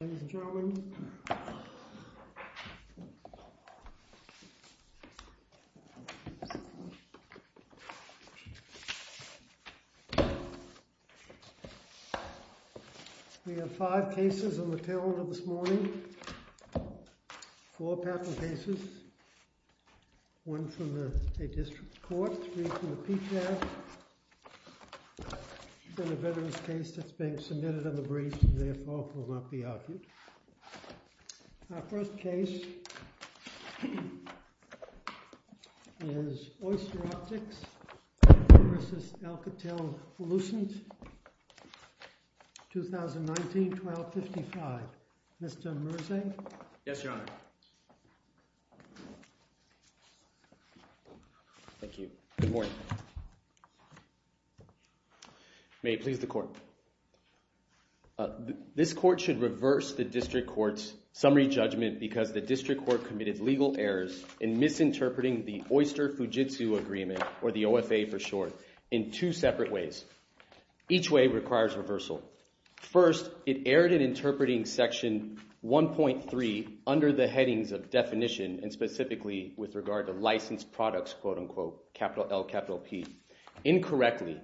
Ladies and gentlemen, we have five cases on the table this morning, four patent cases, one from the state district court, three from the PTAF, and a veteran's case that's being reviewed. Our first case is Oyster Optics v. Alcatel-Lucent, 2019, 1255. Mr. Merzegh? Yes, Your Honor. Thank you. Good morning. May it please the court. This court should reverse the district court's summary judgment because the district court committed legal errors in misinterpreting the Oyster-Fujitsu Agreement, or the OFA for short, in two separate ways. Each way requires reversal. First, it erred in interpreting section 1.3 under the headings of definition, and specifically with regard to licensed products, quote unquote, capital L, capital P, incorrectly,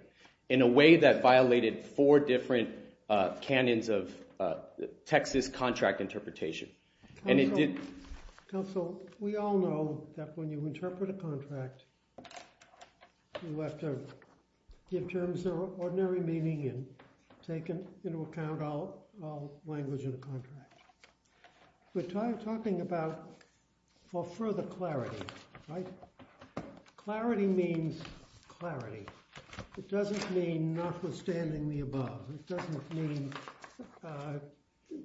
in a way that violated four different canyons of Texas contract interpretation. And it did... Counsel, we all know that when you interpret a contract, you have to give terms that are of ordinary meaning and take into account all language in the contract. We're talking about for further clarity, right? Clarity means clarity. It doesn't mean notwithstanding the above. It doesn't mean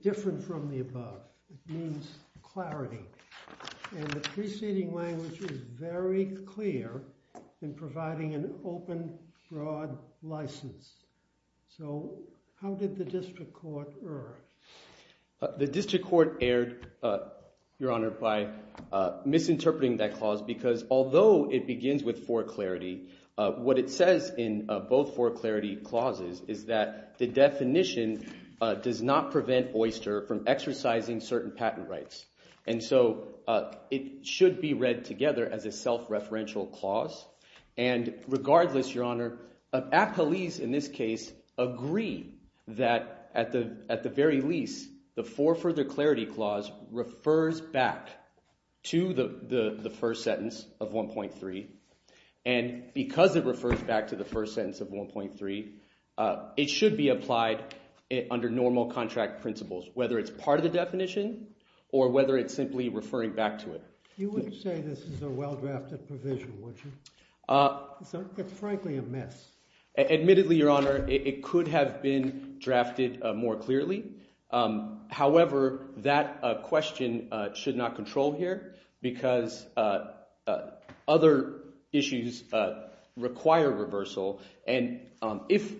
different from the above. It means clarity. And the preceding language is very clear in providing an open, broad license. So how did the district court err? The district court erred, Your Honor, by misinterpreting that clause because although it begins with for clarity, what it says in both for clarity clauses is that the definition does not prevent Oyster from exercising certain patent rights. And so it should be read together as a at the very least, the for further clarity clause refers back to the first sentence of 1.3. And because it refers back to the first sentence of 1.3, it should be applied under normal contract principles, whether it's part of the definition or whether it's simply referring back to it. You wouldn't say this is a well-drafted provision, would you? It's frankly a mess. Admittedly, Your Honor, it could have been drafted more clearly. However, that question should not control here because other issues require reversal. And if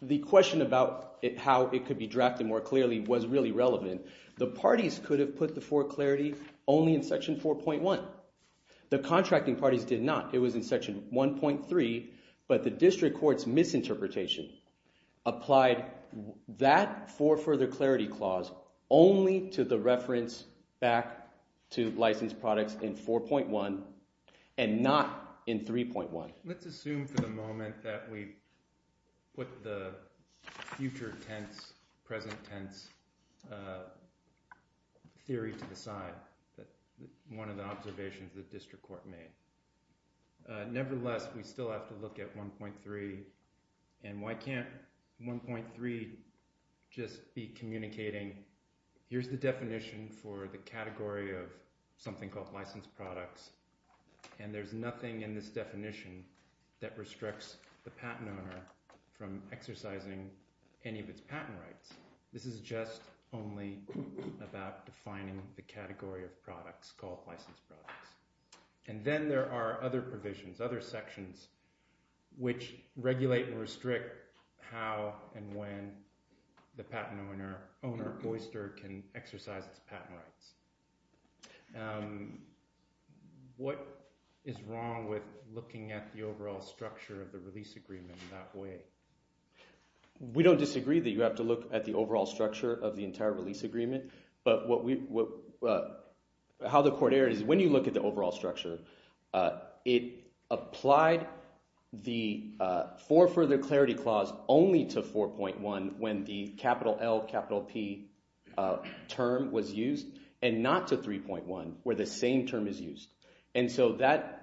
the question about how it could be drafted more clearly was really relevant, the parties could have put the for clarity only in section 4.1. The contracting parties did not. It was in section 1.3. But the district court's misinterpretation applied that for further clarity clause only to the reference back to licensed products in 4.1 and not in 3.1. Let's assume for the moment that we put the future tense, present tense theory to the side that one of the observations the district court made. Nevertheless, we still have to look at 1.3. And why can't 1.3 just be communicating, here's the definition for the category of something called licensed products, and there's nothing in this definition that restricts the patent owner from exercising any of its patent rights. This is just only about defining the category of products called licensed products. And then there are other provisions, other sections, which regulate and restrict how and when the patent owner, Boyster, can exercise its patent rights. What is wrong with looking at the overall structure of the release agreement that way? We don't disagree that you have to look at the structure of the entire release agreement, but how the court erred is when you look at the overall structure, it applied the for further clarity clause only to 4.1 when the capital L, capital P term was used, and not to 3.1 where the same term is used. And so that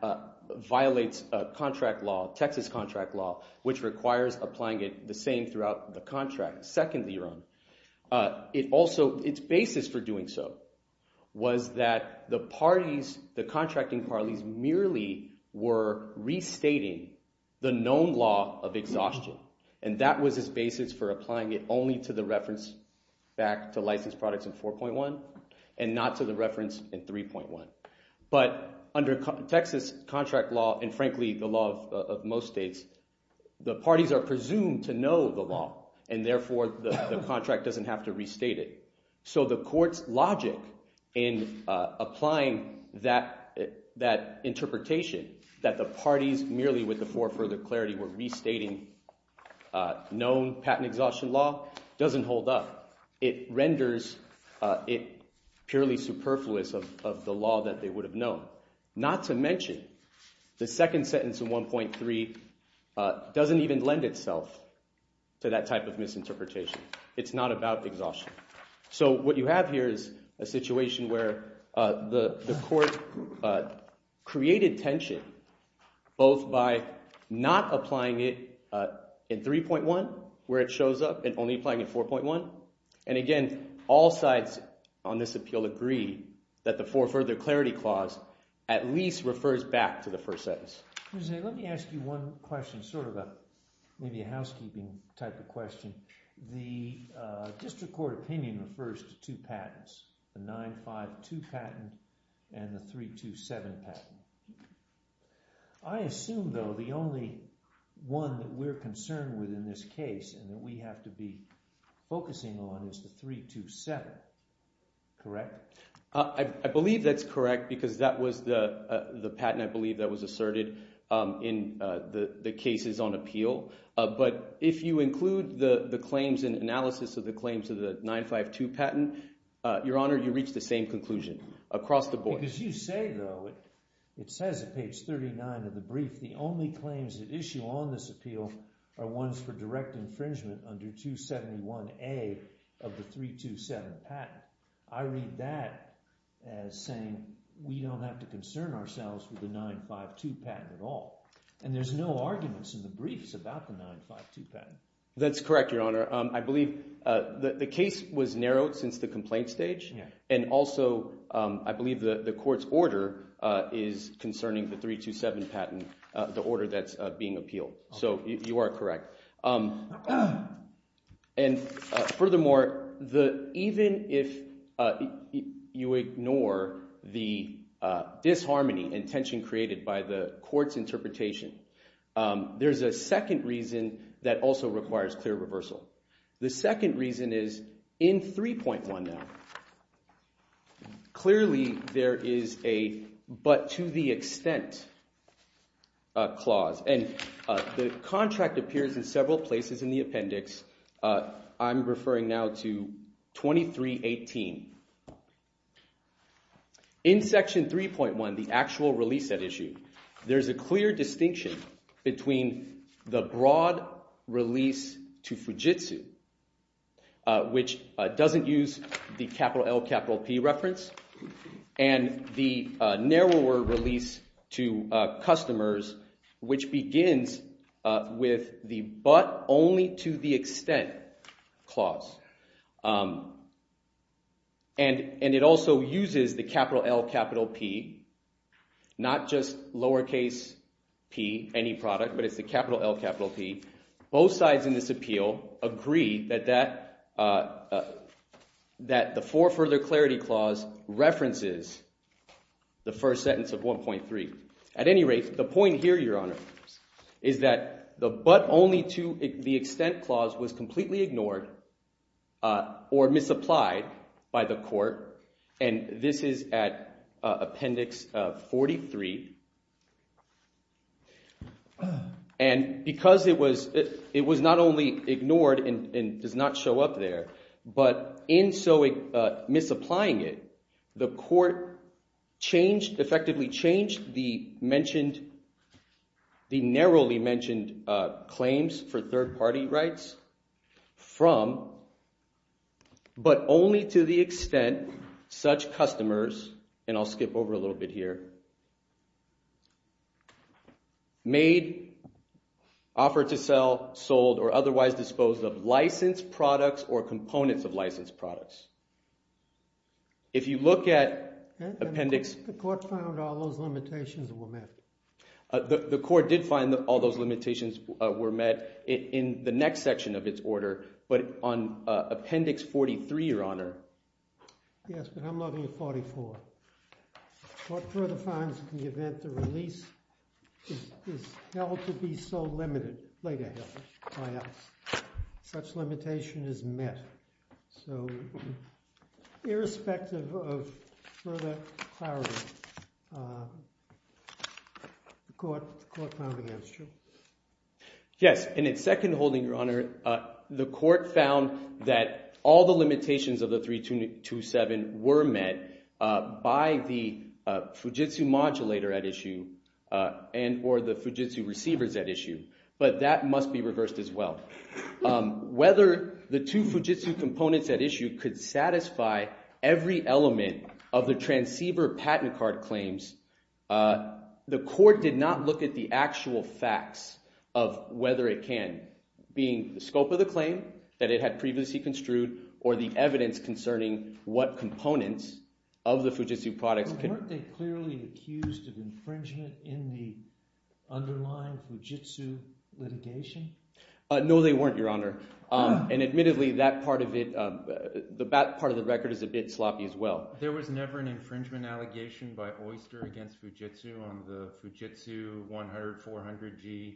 violates contract law, Texas law, which requires applying it the same throughout the contract. Secondly, its basis for doing so was that the contracting parties merely were restating the known law of exhaustion, and that was its basis for applying it only to the reference back to licensed products in 4.1, and not to the reference in 3.1. But under Texas contract law, and frankly the law of most states, the parties are presumed to know the law, and therefore the contract doesn't have to restate it. So the court's logic in applying that interpretation, that the parties merely with the for further clarity were restating known patent exhaustion law, doesn't hold up. It renders it purely superfluous of the law that they would have known. Not to mention, the second sentence in 1.3 doesn't even lend itself to that type of misinterpretation. It's not about exhaustion. So what you have here is a situation where the court created tension, both by not applying it in 3.1, where it shows up, and only applying it in 4.1. And again, all sides on this appeal agree that the for further clarity clause at least refers back to the first sentence. Let me ask you one question, sort of a, maybe a housekeeping type of question. The district court opinion refers to the only one that we're concerned with in this case, and that we have to be focusing on, is the 3.2.7. Correct? I believe that's correct, because that was the patent, I believe, that was asserted in the cases on appeal. But if you include the claims and analysis of the claims of the 9.5.2 patent, Your Honor, you reach the same conclusion. Because you say, though, it says on page 39 of the brief, the only claims that issue on this appeal are ones for direct infringement under 271A of the 3.2.7 patent. I read that as saying, we don't have to concern ourselves with the 9.5.2 patent at all. And there's no arguments in the briefs about the 9.5.2 patent. That's correct, Your Honor. I believe the case was narrowed since the complaint stage. And also, I believe the court's order is concerning the 3.2.7 patent, the order that's being appealed. So you are correct. And furthermore, even if you ignore the disharmony and tension created by the court's interpretation, there's a second reason that also requires clear reversal. The second reason is in 3.1 now, clearly there is a but-to-the-extent clause. And the contract appears in several places in the appendix. I'm referring now to 2318. In section 3.1, the actual release that issue, there's a clear distinction between the broad release to Fujitsu, which doesn't use the capital L, capital P reference, and the narrower release to customers, which begins with the but-only-to-the-extent clause. And it also uses the capital L, capital P, not just lowercase p, any product, but it's the capital L, capital P. Both sides in this appeal agree that the for-further-clarity clause references the first sentence of 1.3. At any rate, the point here, Your Honor, is that the but-only-to-the-extent clause was completely ignored or misapplied by the court. And this is at appendix 43. And because it was not only ignored and does not show up there, but in so misapplying it, the court effectively changed the narrowly mentioned claims for third-party rights from but-only-to-the-extent such customers, and I'll skip over a little bit here, made, offered to sell, sold, or otherwise disposed of licensed products or components of licensed products. If you look at appendix- The court found all those limitations were met. The court did find that all those limitations were met in the next section of its order, but on appendix 43, Your Honor. Yes, but I'm looking at 44. The court further finds, in the event the release is held to be so limited, such limitation is met. So, irrespective of further clarity, the court found against you. Yes, and in second holding, Your Honor, the court found that all the limitations of the 3227 were met by the Fujitsu modulator at issue, and or the Fujitsu receivers at issue, but that must be reversed as well. Whether the two Fujitsu components at issue could satisfy every element of the transceiver patent card claims, the court did not look at the actual facts of whether it can, being the scope of the claim that it had previously construed, or the evidence concerning what components of the Fujitsu products- Weren't they clearly accused of infringement in the underlying Fujitsu litigation? No, they weren't, Your Honor, and admittedly, that part of it, the back part of the record is a bit sloppy as well. There was never an infringement allegation by Oyster against Fujitsu on the Fujitsu 100-400G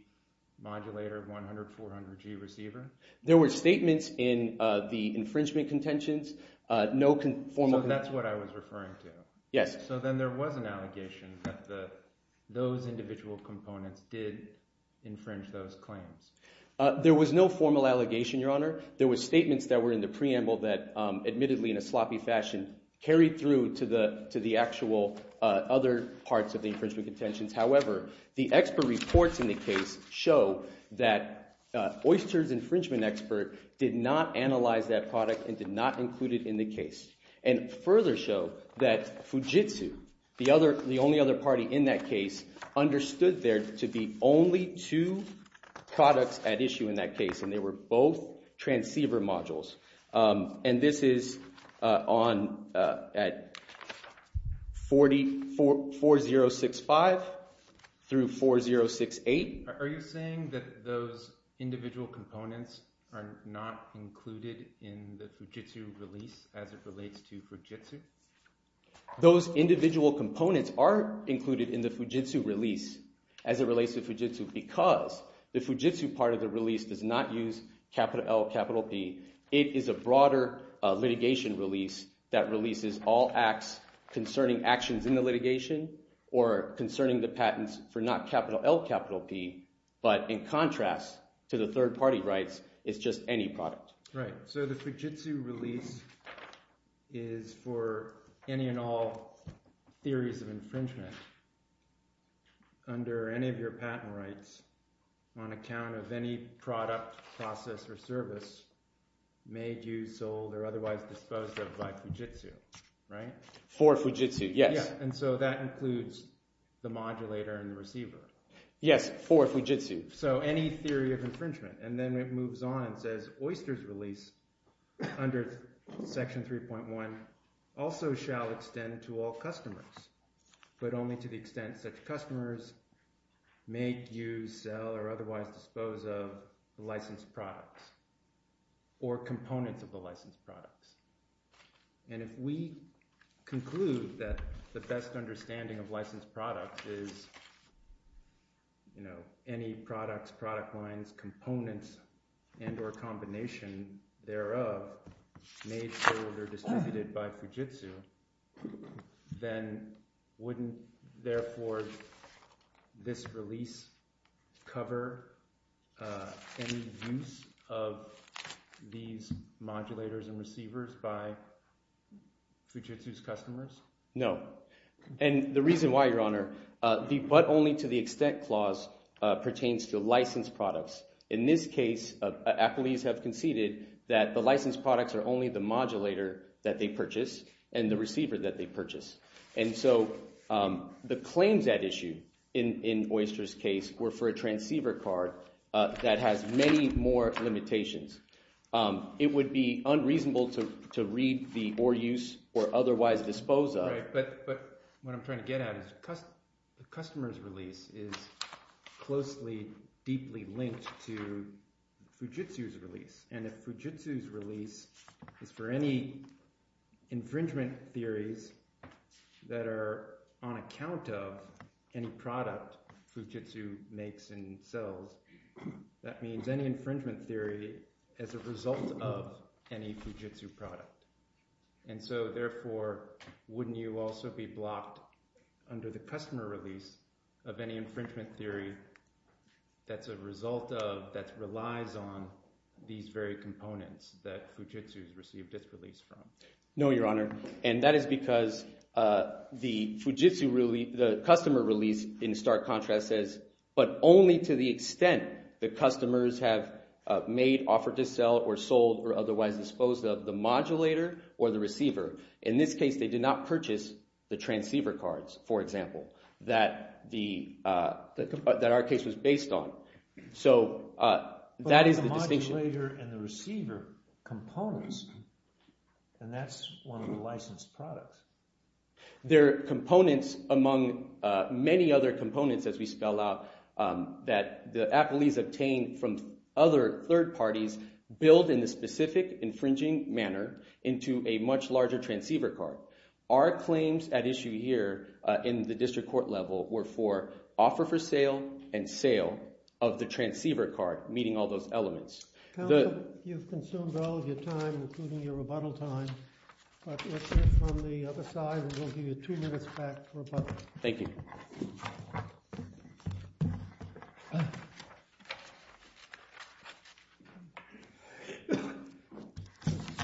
modulator, 100-400G receiver? There were statements in the infringement contentions, no conformal- So that's what I was referring to? Yes. So then there was an allegation that those individual components did infringe those claims? There was no formal allegation, Your Honor. There were statements that were in the preamble that admittedly in a sloppy fashion carried through to the actual other parts of the infringement contentions. However, the expert reports in the case show that Oyster's infringement expert did not analyze that product and did not include it in the case, and further show that Fujitsu, the only other party in that case, understood there to be only two products at issue in that case, and they were both transceiver modules, and this is on 4065 through 4068. Are you saying that those individual components are not included in the Fujitsu release as it relates to Fujitsu? Those individual components are included in the Fujitsu release as it relates to Fujitsu because the Fujitsu part of the release does not use capital L, capital P. It is a broader litigation release that releases all acts concerning actions in the litigation or concerning the patents for not capital L, capital P, but in contrast to the third-party rights, it's just any product. So the Fujitsu release is for any and all theories of infringement under any of your patent rights on account of any product, process, or service made, used, sold, or otherwise disposed of by Fujitsu, right? For Fujitsu, yes. And so that includes the modulator and the receiver? Yes, for Fujitsu. So any theory of infringement, and then it moves on and says, Oyster's release under Section 3.1 also shall extend to all customers, but only to the extent such customers may use, sell, or otherwise dispose of licensed products or components of the licensed products. And if we conclude that the best understanding of licensed products is any products, product lines, components, and or combination thereof made, sold, or distributed by Fujitsu, then wouldn't, therefore, this release cover any use of these modulators and receivers by Fujitsu's customers? No. And the reason why, Your Honor, the but only to the extent clause pertains to licensed products. In this case, applies have conceded that the licensed products are only the modulator that they purchase and the receiver that they purchase. And so the claims at issue in Oyster's case were for a transceiver card that has many more limitations. It would be unreasonable to read the or use or otherwise dispose of. But what I'm trying to get at is the customer's release is closely, deeply linked to Fujitsu's release. And if Fujitsu's release is for any infringement theories that are on account of any product Fujitsu makes and sells, that means any infringement theory as a result of any Fujitsu product. And so, therefore, wouldn't you also be blocked under the customer release of any infringement theory that's a result of, that relies on these very components that Fujitsu's received its release from? No, Your Honor. And that is because the Fujitsu release, the customer release in stark contrast says, but only to the extent the customers have made, offered to sell, or sold, or otherwise disposed of the modulator or the receiver. In this case, they did not purchase the transceiver cards, for example, that the, that our case was based on. So that is the distinction. The modulator and the receiver components, and that's one of the licensed products. They're components among many other components, as we spell out, that the appellees obtained from other third parties billed in a specific infringing manner into a much larger transceiver card. Our claims at issue here in the district court level were for offer for sale and sale of the transceiver card, meeting all those elements. Counsel, you've consumed all of your time, including your rebuttal time, but let's move from the other side, and we'll give you two minutes back for rebuttal. Thank you. Mr.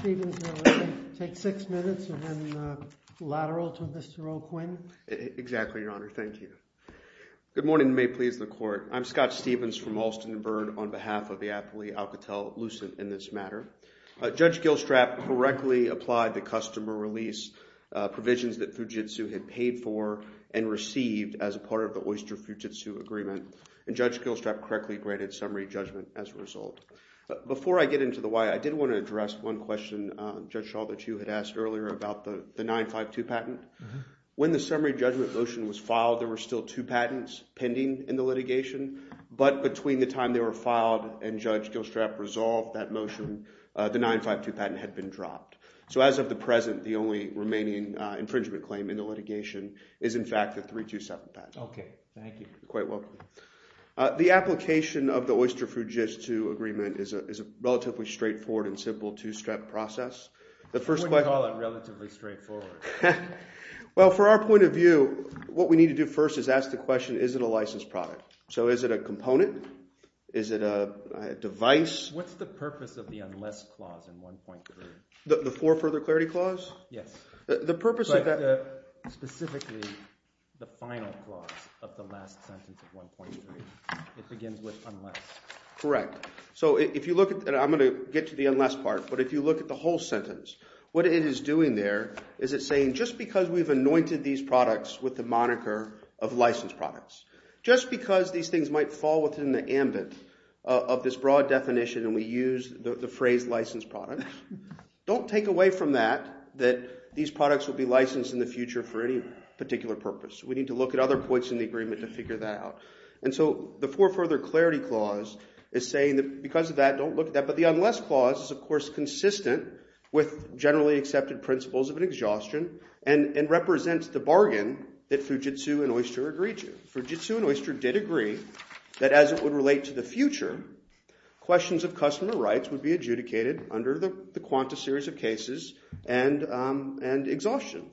Stevens, you'll take six minutes, and then lateral to Mr. O'Quinn. Exactly, Your Honor. Thank you. Good morning, and may it please the court. I'm Scott Stevens from Alston & Byrd on behalf of the appellee Alcatel-Lucent in this matter. Judge Gilstrap correctly applied the customer release provisions that Fujitsu had paid for and received as part of the Oyster Fujitsu Agreement, and Judge Gilstrap correctly granted summary judgment as a result. Before I get into the why, I did want to address one question, Judge Shaw, that you had asked earlier about the 952 patent. When the summary judgment motion was filed, there were still two patents pending in the litigation, but between the time they were filed and Judge Gilstrap resolved that motion, the 952 patent had been dropped. So as of the present, the only remaining infringement claim in the litigation is, in fact, the 327 patent. Okay, thank you. You're quite welcome. The application of the Oyster Fujitsu Agreement is a relatively straightforward and simple two-step process. You wouldn't call it relatively straightforward. Well, for our point of view, what we need to do first is ask the question, is it a licensed product? So is it a component? Is it a device? What's the purpose of the unless clause in 1.3? The for further clarity clause? Yes. Specifically, the final clause of the last sentence of 1.3. It begins with unless. Correct. So if you look at – and I'm going to get to the unless part, but if you look at the whole sentence, what it is doing there is it's saying just because we've anointed these products with the moniker of licensed products, just because these things might fall within the ambit of this broad definition and we use the phrase licensed product, don't take away from that that these products will be licensed in the future for any particular purpose. We need to look at other points in the agreement to figure that out. And so the for further clarity clause is saying that because of that, don't look at that. But the unless clause is, of course, consistent with generally accepted principles of an exhaustion and represents the bargain that Fujitsu and Oyster agreed to. Fujitsu and Oyster did agree that as it would relate to the future, questions of customer rights would be adjudicated under the quanta series of cases and exhaustion.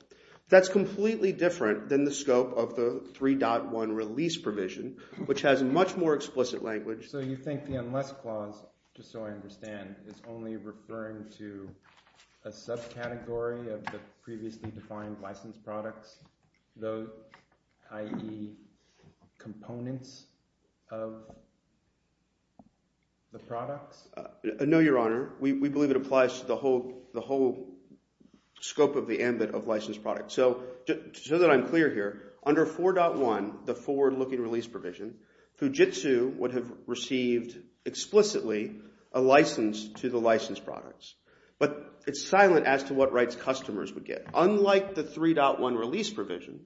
That's completely different than the scope of the 3.1 release provision, which has a much more explicit language. So you think the unless clause, just so I understand, is only referring to a subcategory of the previously defined licensed products, i.e., components of the products? No, Your Honor. We believe it applies to the whole scope of the ambit of licensed products. So just so that I'm clear here, under 4.1, the forward-looking release provision, Fujitsu would have received explicitly a license to the licensed products. But it's silent as to what rights customers would get. Unlike the 3.1 release provision,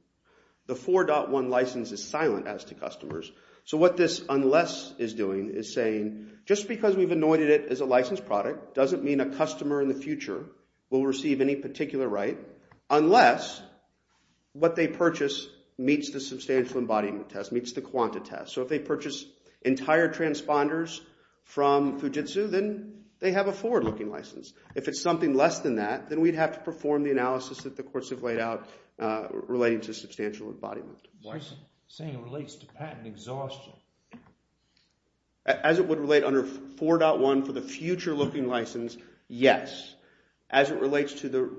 the 4.1 license is silent as to customers. So what this unless is doing is saying just because we've anointed it as a licensed product doesn't mean a customer in the future will receive any particular right unless what they purchase meets the substantial embodiment test, meets the quanta test. So if they purchase entire transponders from Fujitsu, then they have a forward-looking license. If it's something less than that, then we'd have to perform the analysis that the courts have laid out relating to substantial embodiment. So you're saying it relates to patent exhaustion? As it would relate under 4.1 for the future-looking license, yes. As it relates to the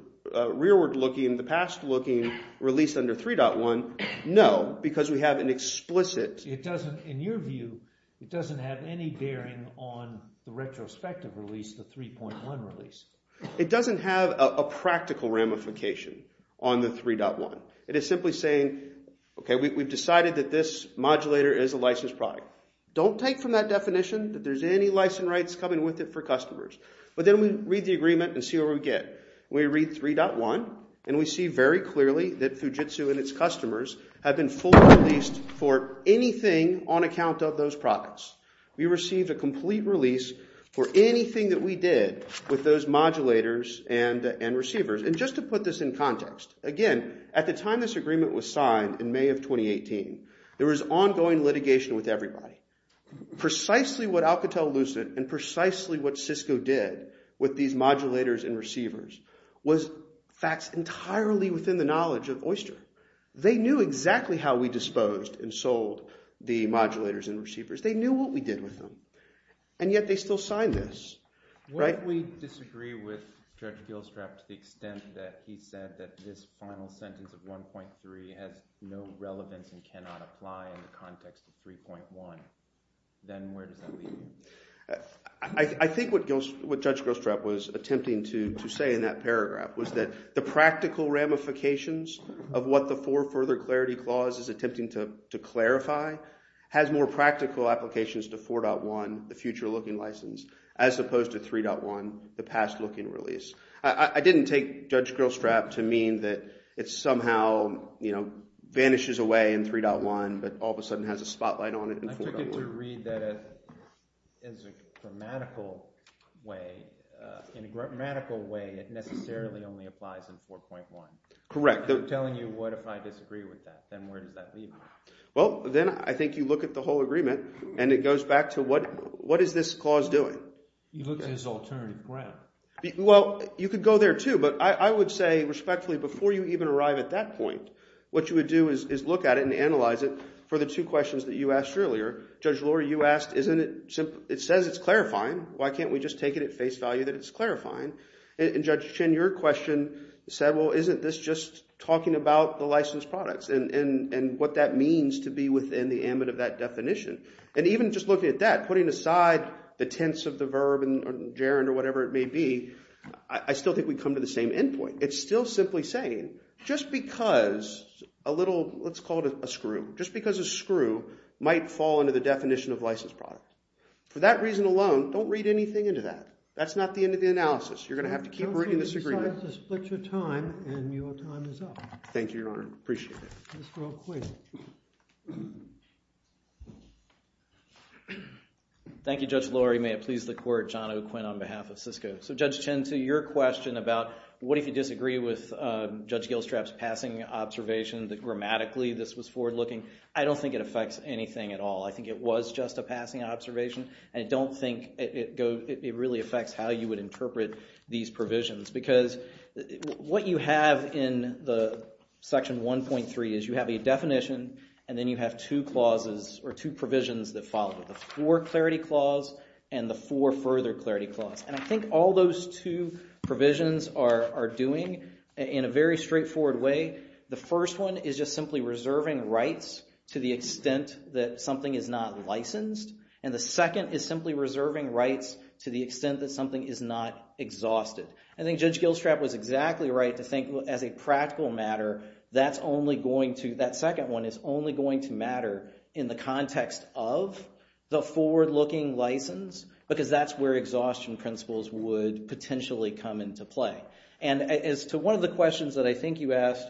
rearward-looking, the past-looking release under 3.1, no, because we have an explicit… It doesn't – in your view, it doesn't have any bearing on the retrospective release, the 3.1 release. It doesn't have a practical ramification on the 3.1. It is simply saying, okay, we've decided that this modulator is a licensed product. Don't take from that definition that there's any license rights coming with it for customers. But then we read the agreement and see what we get. We read 3.1, and we see very clearly that Fujitsu and its customers have been fully released for anything on account of those products. We received a complete release for anything that we did with those modulators and receivers. And just to put this in context, again, at the time this agreement was signed in May of 2018, there was ongoing litigation with everybody. Precisely what Alcatel-Lucid and precisely what Cisco did with these modulators and receivers was facts entirely within the knowledge of Oyster. They knew exactly how we disposed and sold the modulators and receivers. They knew what we did with them, and yet they still signed this. What if we disagree with Judge Gilstrap to the extent that he said that this final sentence of 1.3 has no relevance and cannot apply in the context of 3.1? Then where does that leave me? I think what Judge Gilstrap was attempting to say in that paragraph was that the practical ramifications of what the For Further Clarity Clause is attempting to clarify has more practical applications to 4.1, the future-looking license, as opposed to 3.1, the past-looking release. I didn't take Judge Gilstrap to mean that it somehow vanishes away in 3.1 but all of a sudden has a spotlight on it in 4.1. I took it to read that it is a grammatical way. In a grammatical way, it necessarily only applies in 4.1. Correct. I'm telling you what if I disagree with that. Then where does that leave me? Well, then I think you look at the whole agreement, and it goes back to what is this clause doing? You look at his alternative ground. Well, you could go there too, but I would say respectfully before you even arrive at that point, what you would do is look at it and analyze it for the two questions that you asked earlier. Judge Loehr, you asked isn't it – it says it's clarifying. Why can't we just take it at face value that it's clarifying? And Judge Chin, your question said, well, isn't this just talking about the licensed products and what that means to be within the ambit of that definition? And even just looking at that, putting aside the tense of the verb or gerund or whatever it may be, I still think we come to the same end point. It's still simply saying just because a little – let's call it a screw. Just because a screw might fall under the definition of licensed product. For that reason alone, don't read anything into that. That's not the end of the analysis. You're going to have to keep reading this agreement. I'm sorry to split your time, and your time is up. Thank you, Your Honor. Appreciate it. Mr. O'Quinn. Thank you, Judge Loehr. May it please the court, John O'Quinn on behalf of SISCO. So Judge Chin, to your question about what if you disagree with Judge Gilstrap's passing observation that grammatically this was forward-looking, I don't think it affects anything at all. I think it was just a passing observation, and I don't think it really affects how you would interpret these provisions. Because what you have in the section 1.3 is you have a definition, and then you have two clauses or two provisions that follow. The four-clarity clause and the four-further-clarity clause. And I think all those two provisions are doing in a very straightforward way. I think the first one is just simply reserving rights to the extent that something is not licensed. And the second is simply reserving rights to the extent that something is not exhausted. I think Judge Gilstrap was exactly right to think as a practical matter that's only going to – that second one is only going to matter in the context of the forward-looking license. Because that's where exhaustion principles would potentially come into play. And as to one of the questions that I think you asked,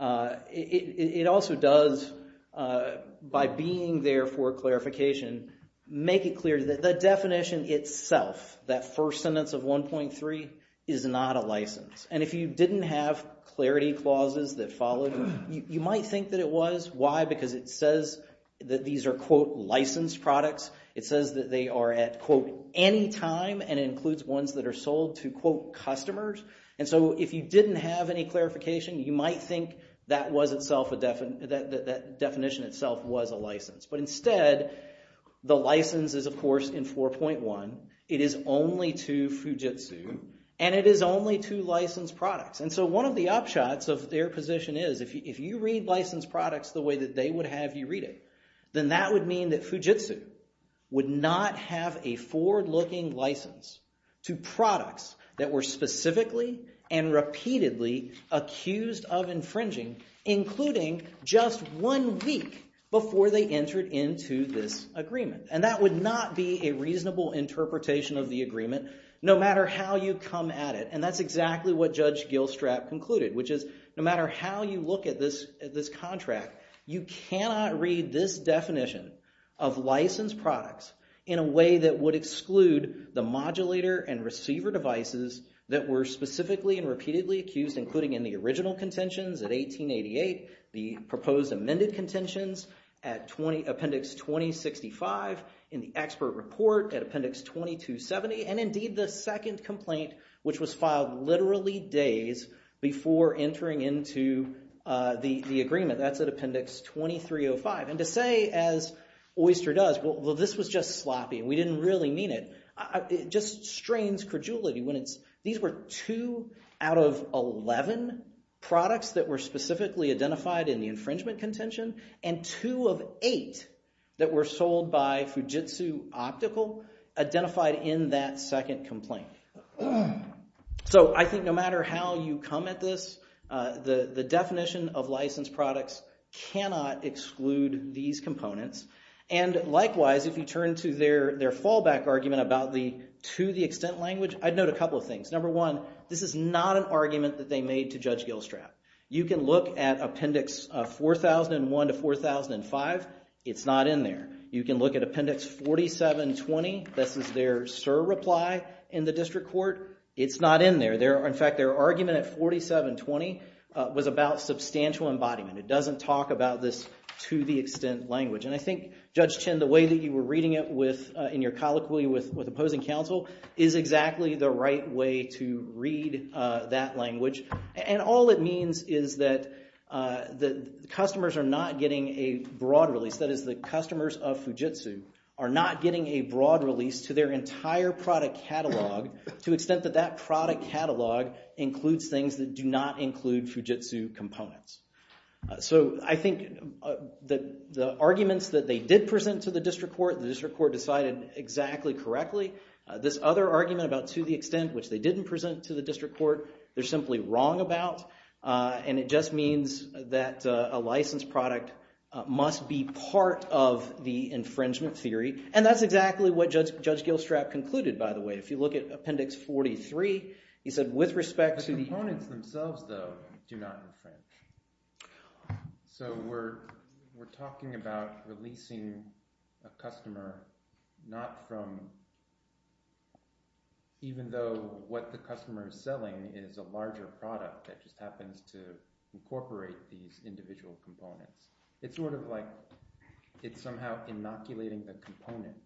it also does, by being there for clarification, make it clear that the definition itself, that first sentence of 1.3, is not a license. And if you didn't have clarity clauses that followed, you might think that it was. Why? Because it says that these are, quote, licensed products. It says that they are at, quote, any time, and it includes ones that are sold to, quote, customers. And so if you didn't have any clarification, you might think that was itself a – that definition itself was a license. But instead, the license is, of course, in 4.1. It is only to Fujitsu, and it is only to licensed products. And so one of the upshots of their position is if you read licensed products the way that they would have you read it, then that would mean that Fujitsu would not have a forward-looking license to products that were specifically and repeatedly accused of infringing, including just one week before they entered into this agreement. And that would not be a reasonable interpretation of the agreement no matter how you come at it. And that's exactly what Judge Gilstrap concluded, which is no matter how you look at this contract, you cannot read this definition of licensed products in a way that would exclude the modulator and receiver devices that were specifically and repeatedly accused, including in the original contentions at 1888, the proposed amended contentions at appendix 2065, in the expert report at appendix 2270, and indeed the second complaint, which was filed literally days before entering into the agreement. That's at appendix 2305. And to say, as Oyster does, well, this was just sloppy and we didn't really mean it, just strains credulity when it's – these were two out of 11 products that were specifically identified in the infringement contention and two of eight that were sold by Fujitsu Optical identified in that second complaint. So I think no matter how you come at this, the definition of licensed products cannot exclude these components. And likewise, if you turn to their fallback argument about the to the extent language, I'd note a couple of things. Number one, this is not an argument that they made to Judge Gilstrap. You can look at appendix 4001 to 4005. It's not in there. You can look at appendix 4720. This is their surreply in the district court. It's not in there. In fact, their argument at 4720 was about substantial embodiment. It doesn't talk about this to the extent language. And I think, Judge Chin, the way that you were reading it in your colloquy with opposing counsel is exactly the right way to read that language. And all it means is that the customers are not getting a broad release. That is the customers of Fujitsu are not getting a broad release to their entire product catalog to the extent that that product catalog includes things that do not include Fujitsu components. So I think the arguments that they did present to the district court, the district court decided exactly correctly. This other argument about to the extent, which they didn't present to the district court, they're simply wrong about. And it just means that a licensed product must be part of the infringement theory. And that's exactly what Judge Gilstrap concluded, by the way. If you look at appendix 43, he said with respect to the— The components themselves, though, do not infringe. So we're talking about releasing a customer not from even though what the customer is selling is a larger product that just happens to incorporate these individual components. It's sort of like it's somehow inoculating the component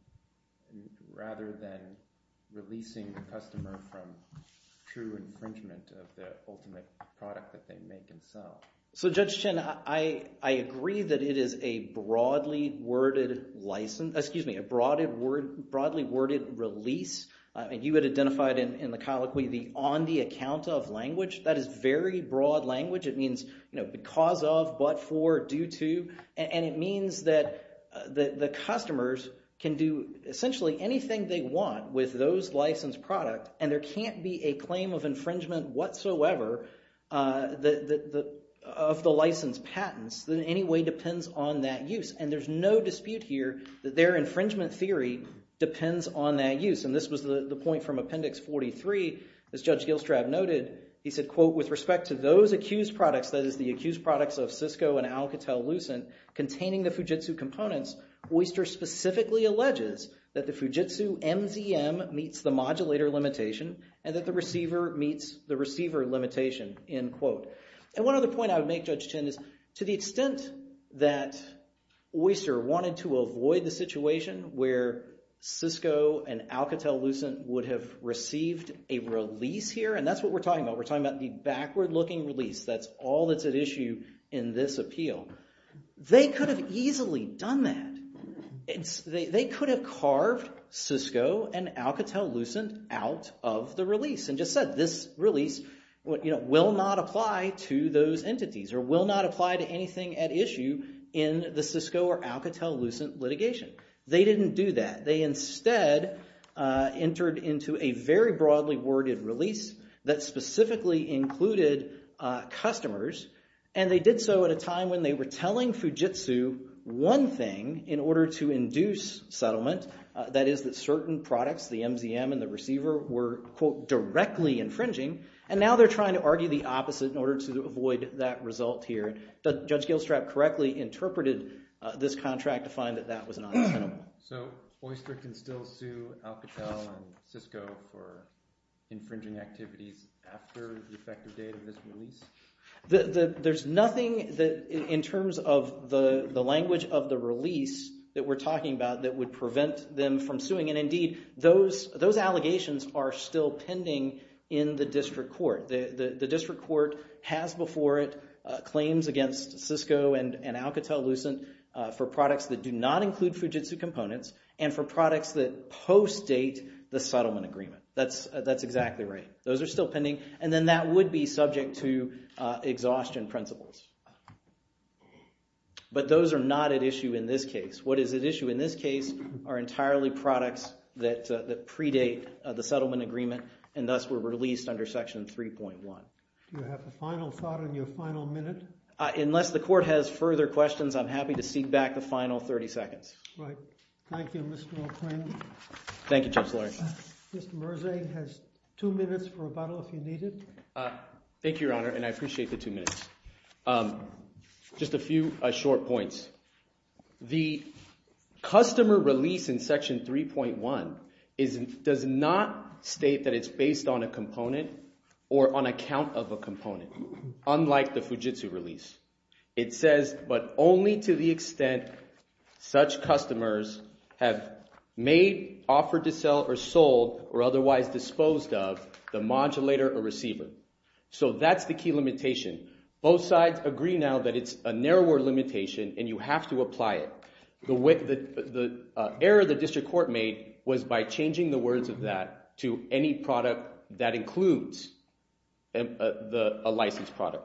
rather than releasing the customer from true infringement of the ultimate product that they make and sell. So, Judge Chin, I agree that it is a broadly worded license—excuse me, a broadly worded release. And you had identified in the colloquy the on the account of language. That is very broad language. It means because of, but for, due to, and it means that the customers can do essentially anything they want with those licensed product. And there can't be a claim of infringement whatsoever of the licensed patents that in any way depends on that use. And there's no dispute here that their infringement theory depends on that use. And this was the point from appendix 43. As Judge Gilstrab noted, he said, quote, with respect to those accused products, that is the accused products of Cisco and Alcatel-Lucent containing the Fujitsu components, Oyster specifically alleges that the Fujitsu MZM meets the modulator limitation and that the receiver meets the receiver limitation, end quote. And one other point I would make, Judge Chin, is to the extent that Oyster wanted to avoid the situation where Cisco and Alcatel-Lucent would have received a release here, and that's what we're talking about. We're talking about the backward looking release. That's all that's at issue in this appeal. They could have easily done that. They could have carved Cisco and Alcatel-Lucent out of the release and just said, this release will not apply to those entities or will not apply to anything at issue in the Cisco or Alcatel-Lucent litigation. They didn't do that. They instead entered into a very broadly worded release that specifically included customers. And they did so at a time when they were telling Fujitsu one thing in order to induce settlement. That is that certain products, the MZM and the receiver, were, quote, directly infringing. And now they're trying to argue the opposite in order to avoid that result here. Judge Gilstrap correctly interpreted this contract to find that that was not acceptable. So Oyster can still sue Alcatel and Cisco for infringing activities after the effective date of this release? There's nothing in terms of the language of the release that we're talking about that would prevent them from suing. And indeed, those allegations are still pending in the district court. The district court has before it claims against Cisco and Alcatel-Lucent for products that do not include Fujitsu components and for products that post-date the settlement agreement. That's exactly right. Those are still pending. And then that would be subject to exhaustion principles. But those are not at issue in this case. What is at issue in this case are entirely products that predate the settlement agreement and thus were released under Section 3.1. Do you have a final thought on your final minute? Unless the court has further questions, I'm happy to cede back the final 30 seconds. Right. Thank you, Mr. O'Quinn. Thank you, Judge Lurie. Mr. Merzey has two minutes for rebuttal if you need it. Thank you, Your Honor, and I appreciate the two minutes. Just a few short points. The customer release in Section 3.1 does not state that it's based on a component or on a count of a component, unlike the Fujitsu release. It says, but only to the extent such customers have made, offered to sell, or sold or otherwise disposed of the modulator or receiver. So that's the key limitation. Both sides agree now that it's a narrower limitation and you have to apply it. The error the district court made was by changing the words of that to any product that includes a licensed product.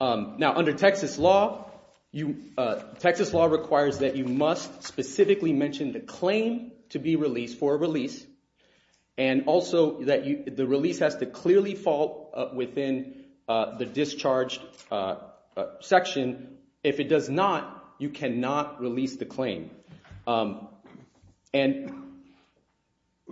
Now, under Texas law, Texas law requires that you must specifically mention the claim to be released for a release, and also that the release has to clearly fall within the discharged section. If it does not, you cannot release the claim. And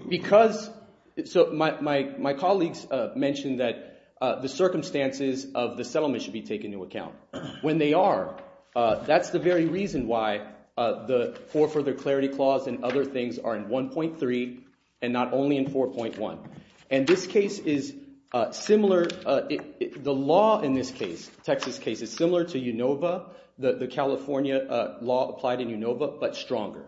because – so my colleagues mentioned that the circumstances of the settlement should be taken into account. When they are, that's the very reason why the fore further clarity clause and other things are in 1.3 and not only in 4.1. And this case is similar – the law in this case, Texas case, is similar to UNOVA, the California law applied in UNOVA, but stronger.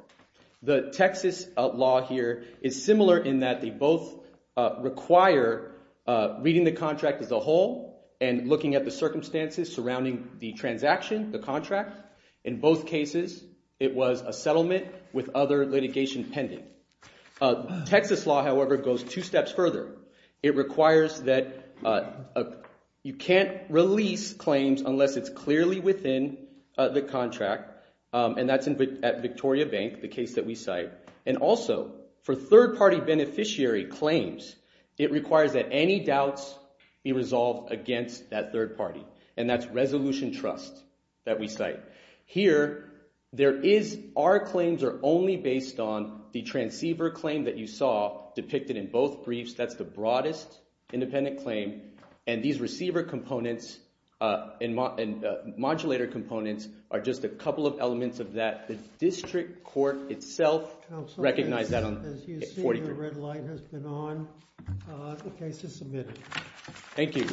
The Texas law here is similar in that they both require reading the contract as a whole and looking at the circumstances surrounding the transaction, the contract. In both cases, it was a settlement with other litigation pending. Texas law, however, goes two steps further. It requires that you can't release claims unless it's clearly within the contract, and that's at Victoria Bank, the case that we cite. And also, for third-party beneficiary claims, it requires that any doubts be resolved against that third party, and that's Resolution Trust that we cite. Here, there is – our claims are only based on the transceiver claim that you saw depicted in both briefs. That's the broadest independent claim, and these receiver components and modulator components are just a couple of elements of that. The district court itself recognized that on 43rd. As you see, the red light has been on. The case is submitted. Thank you.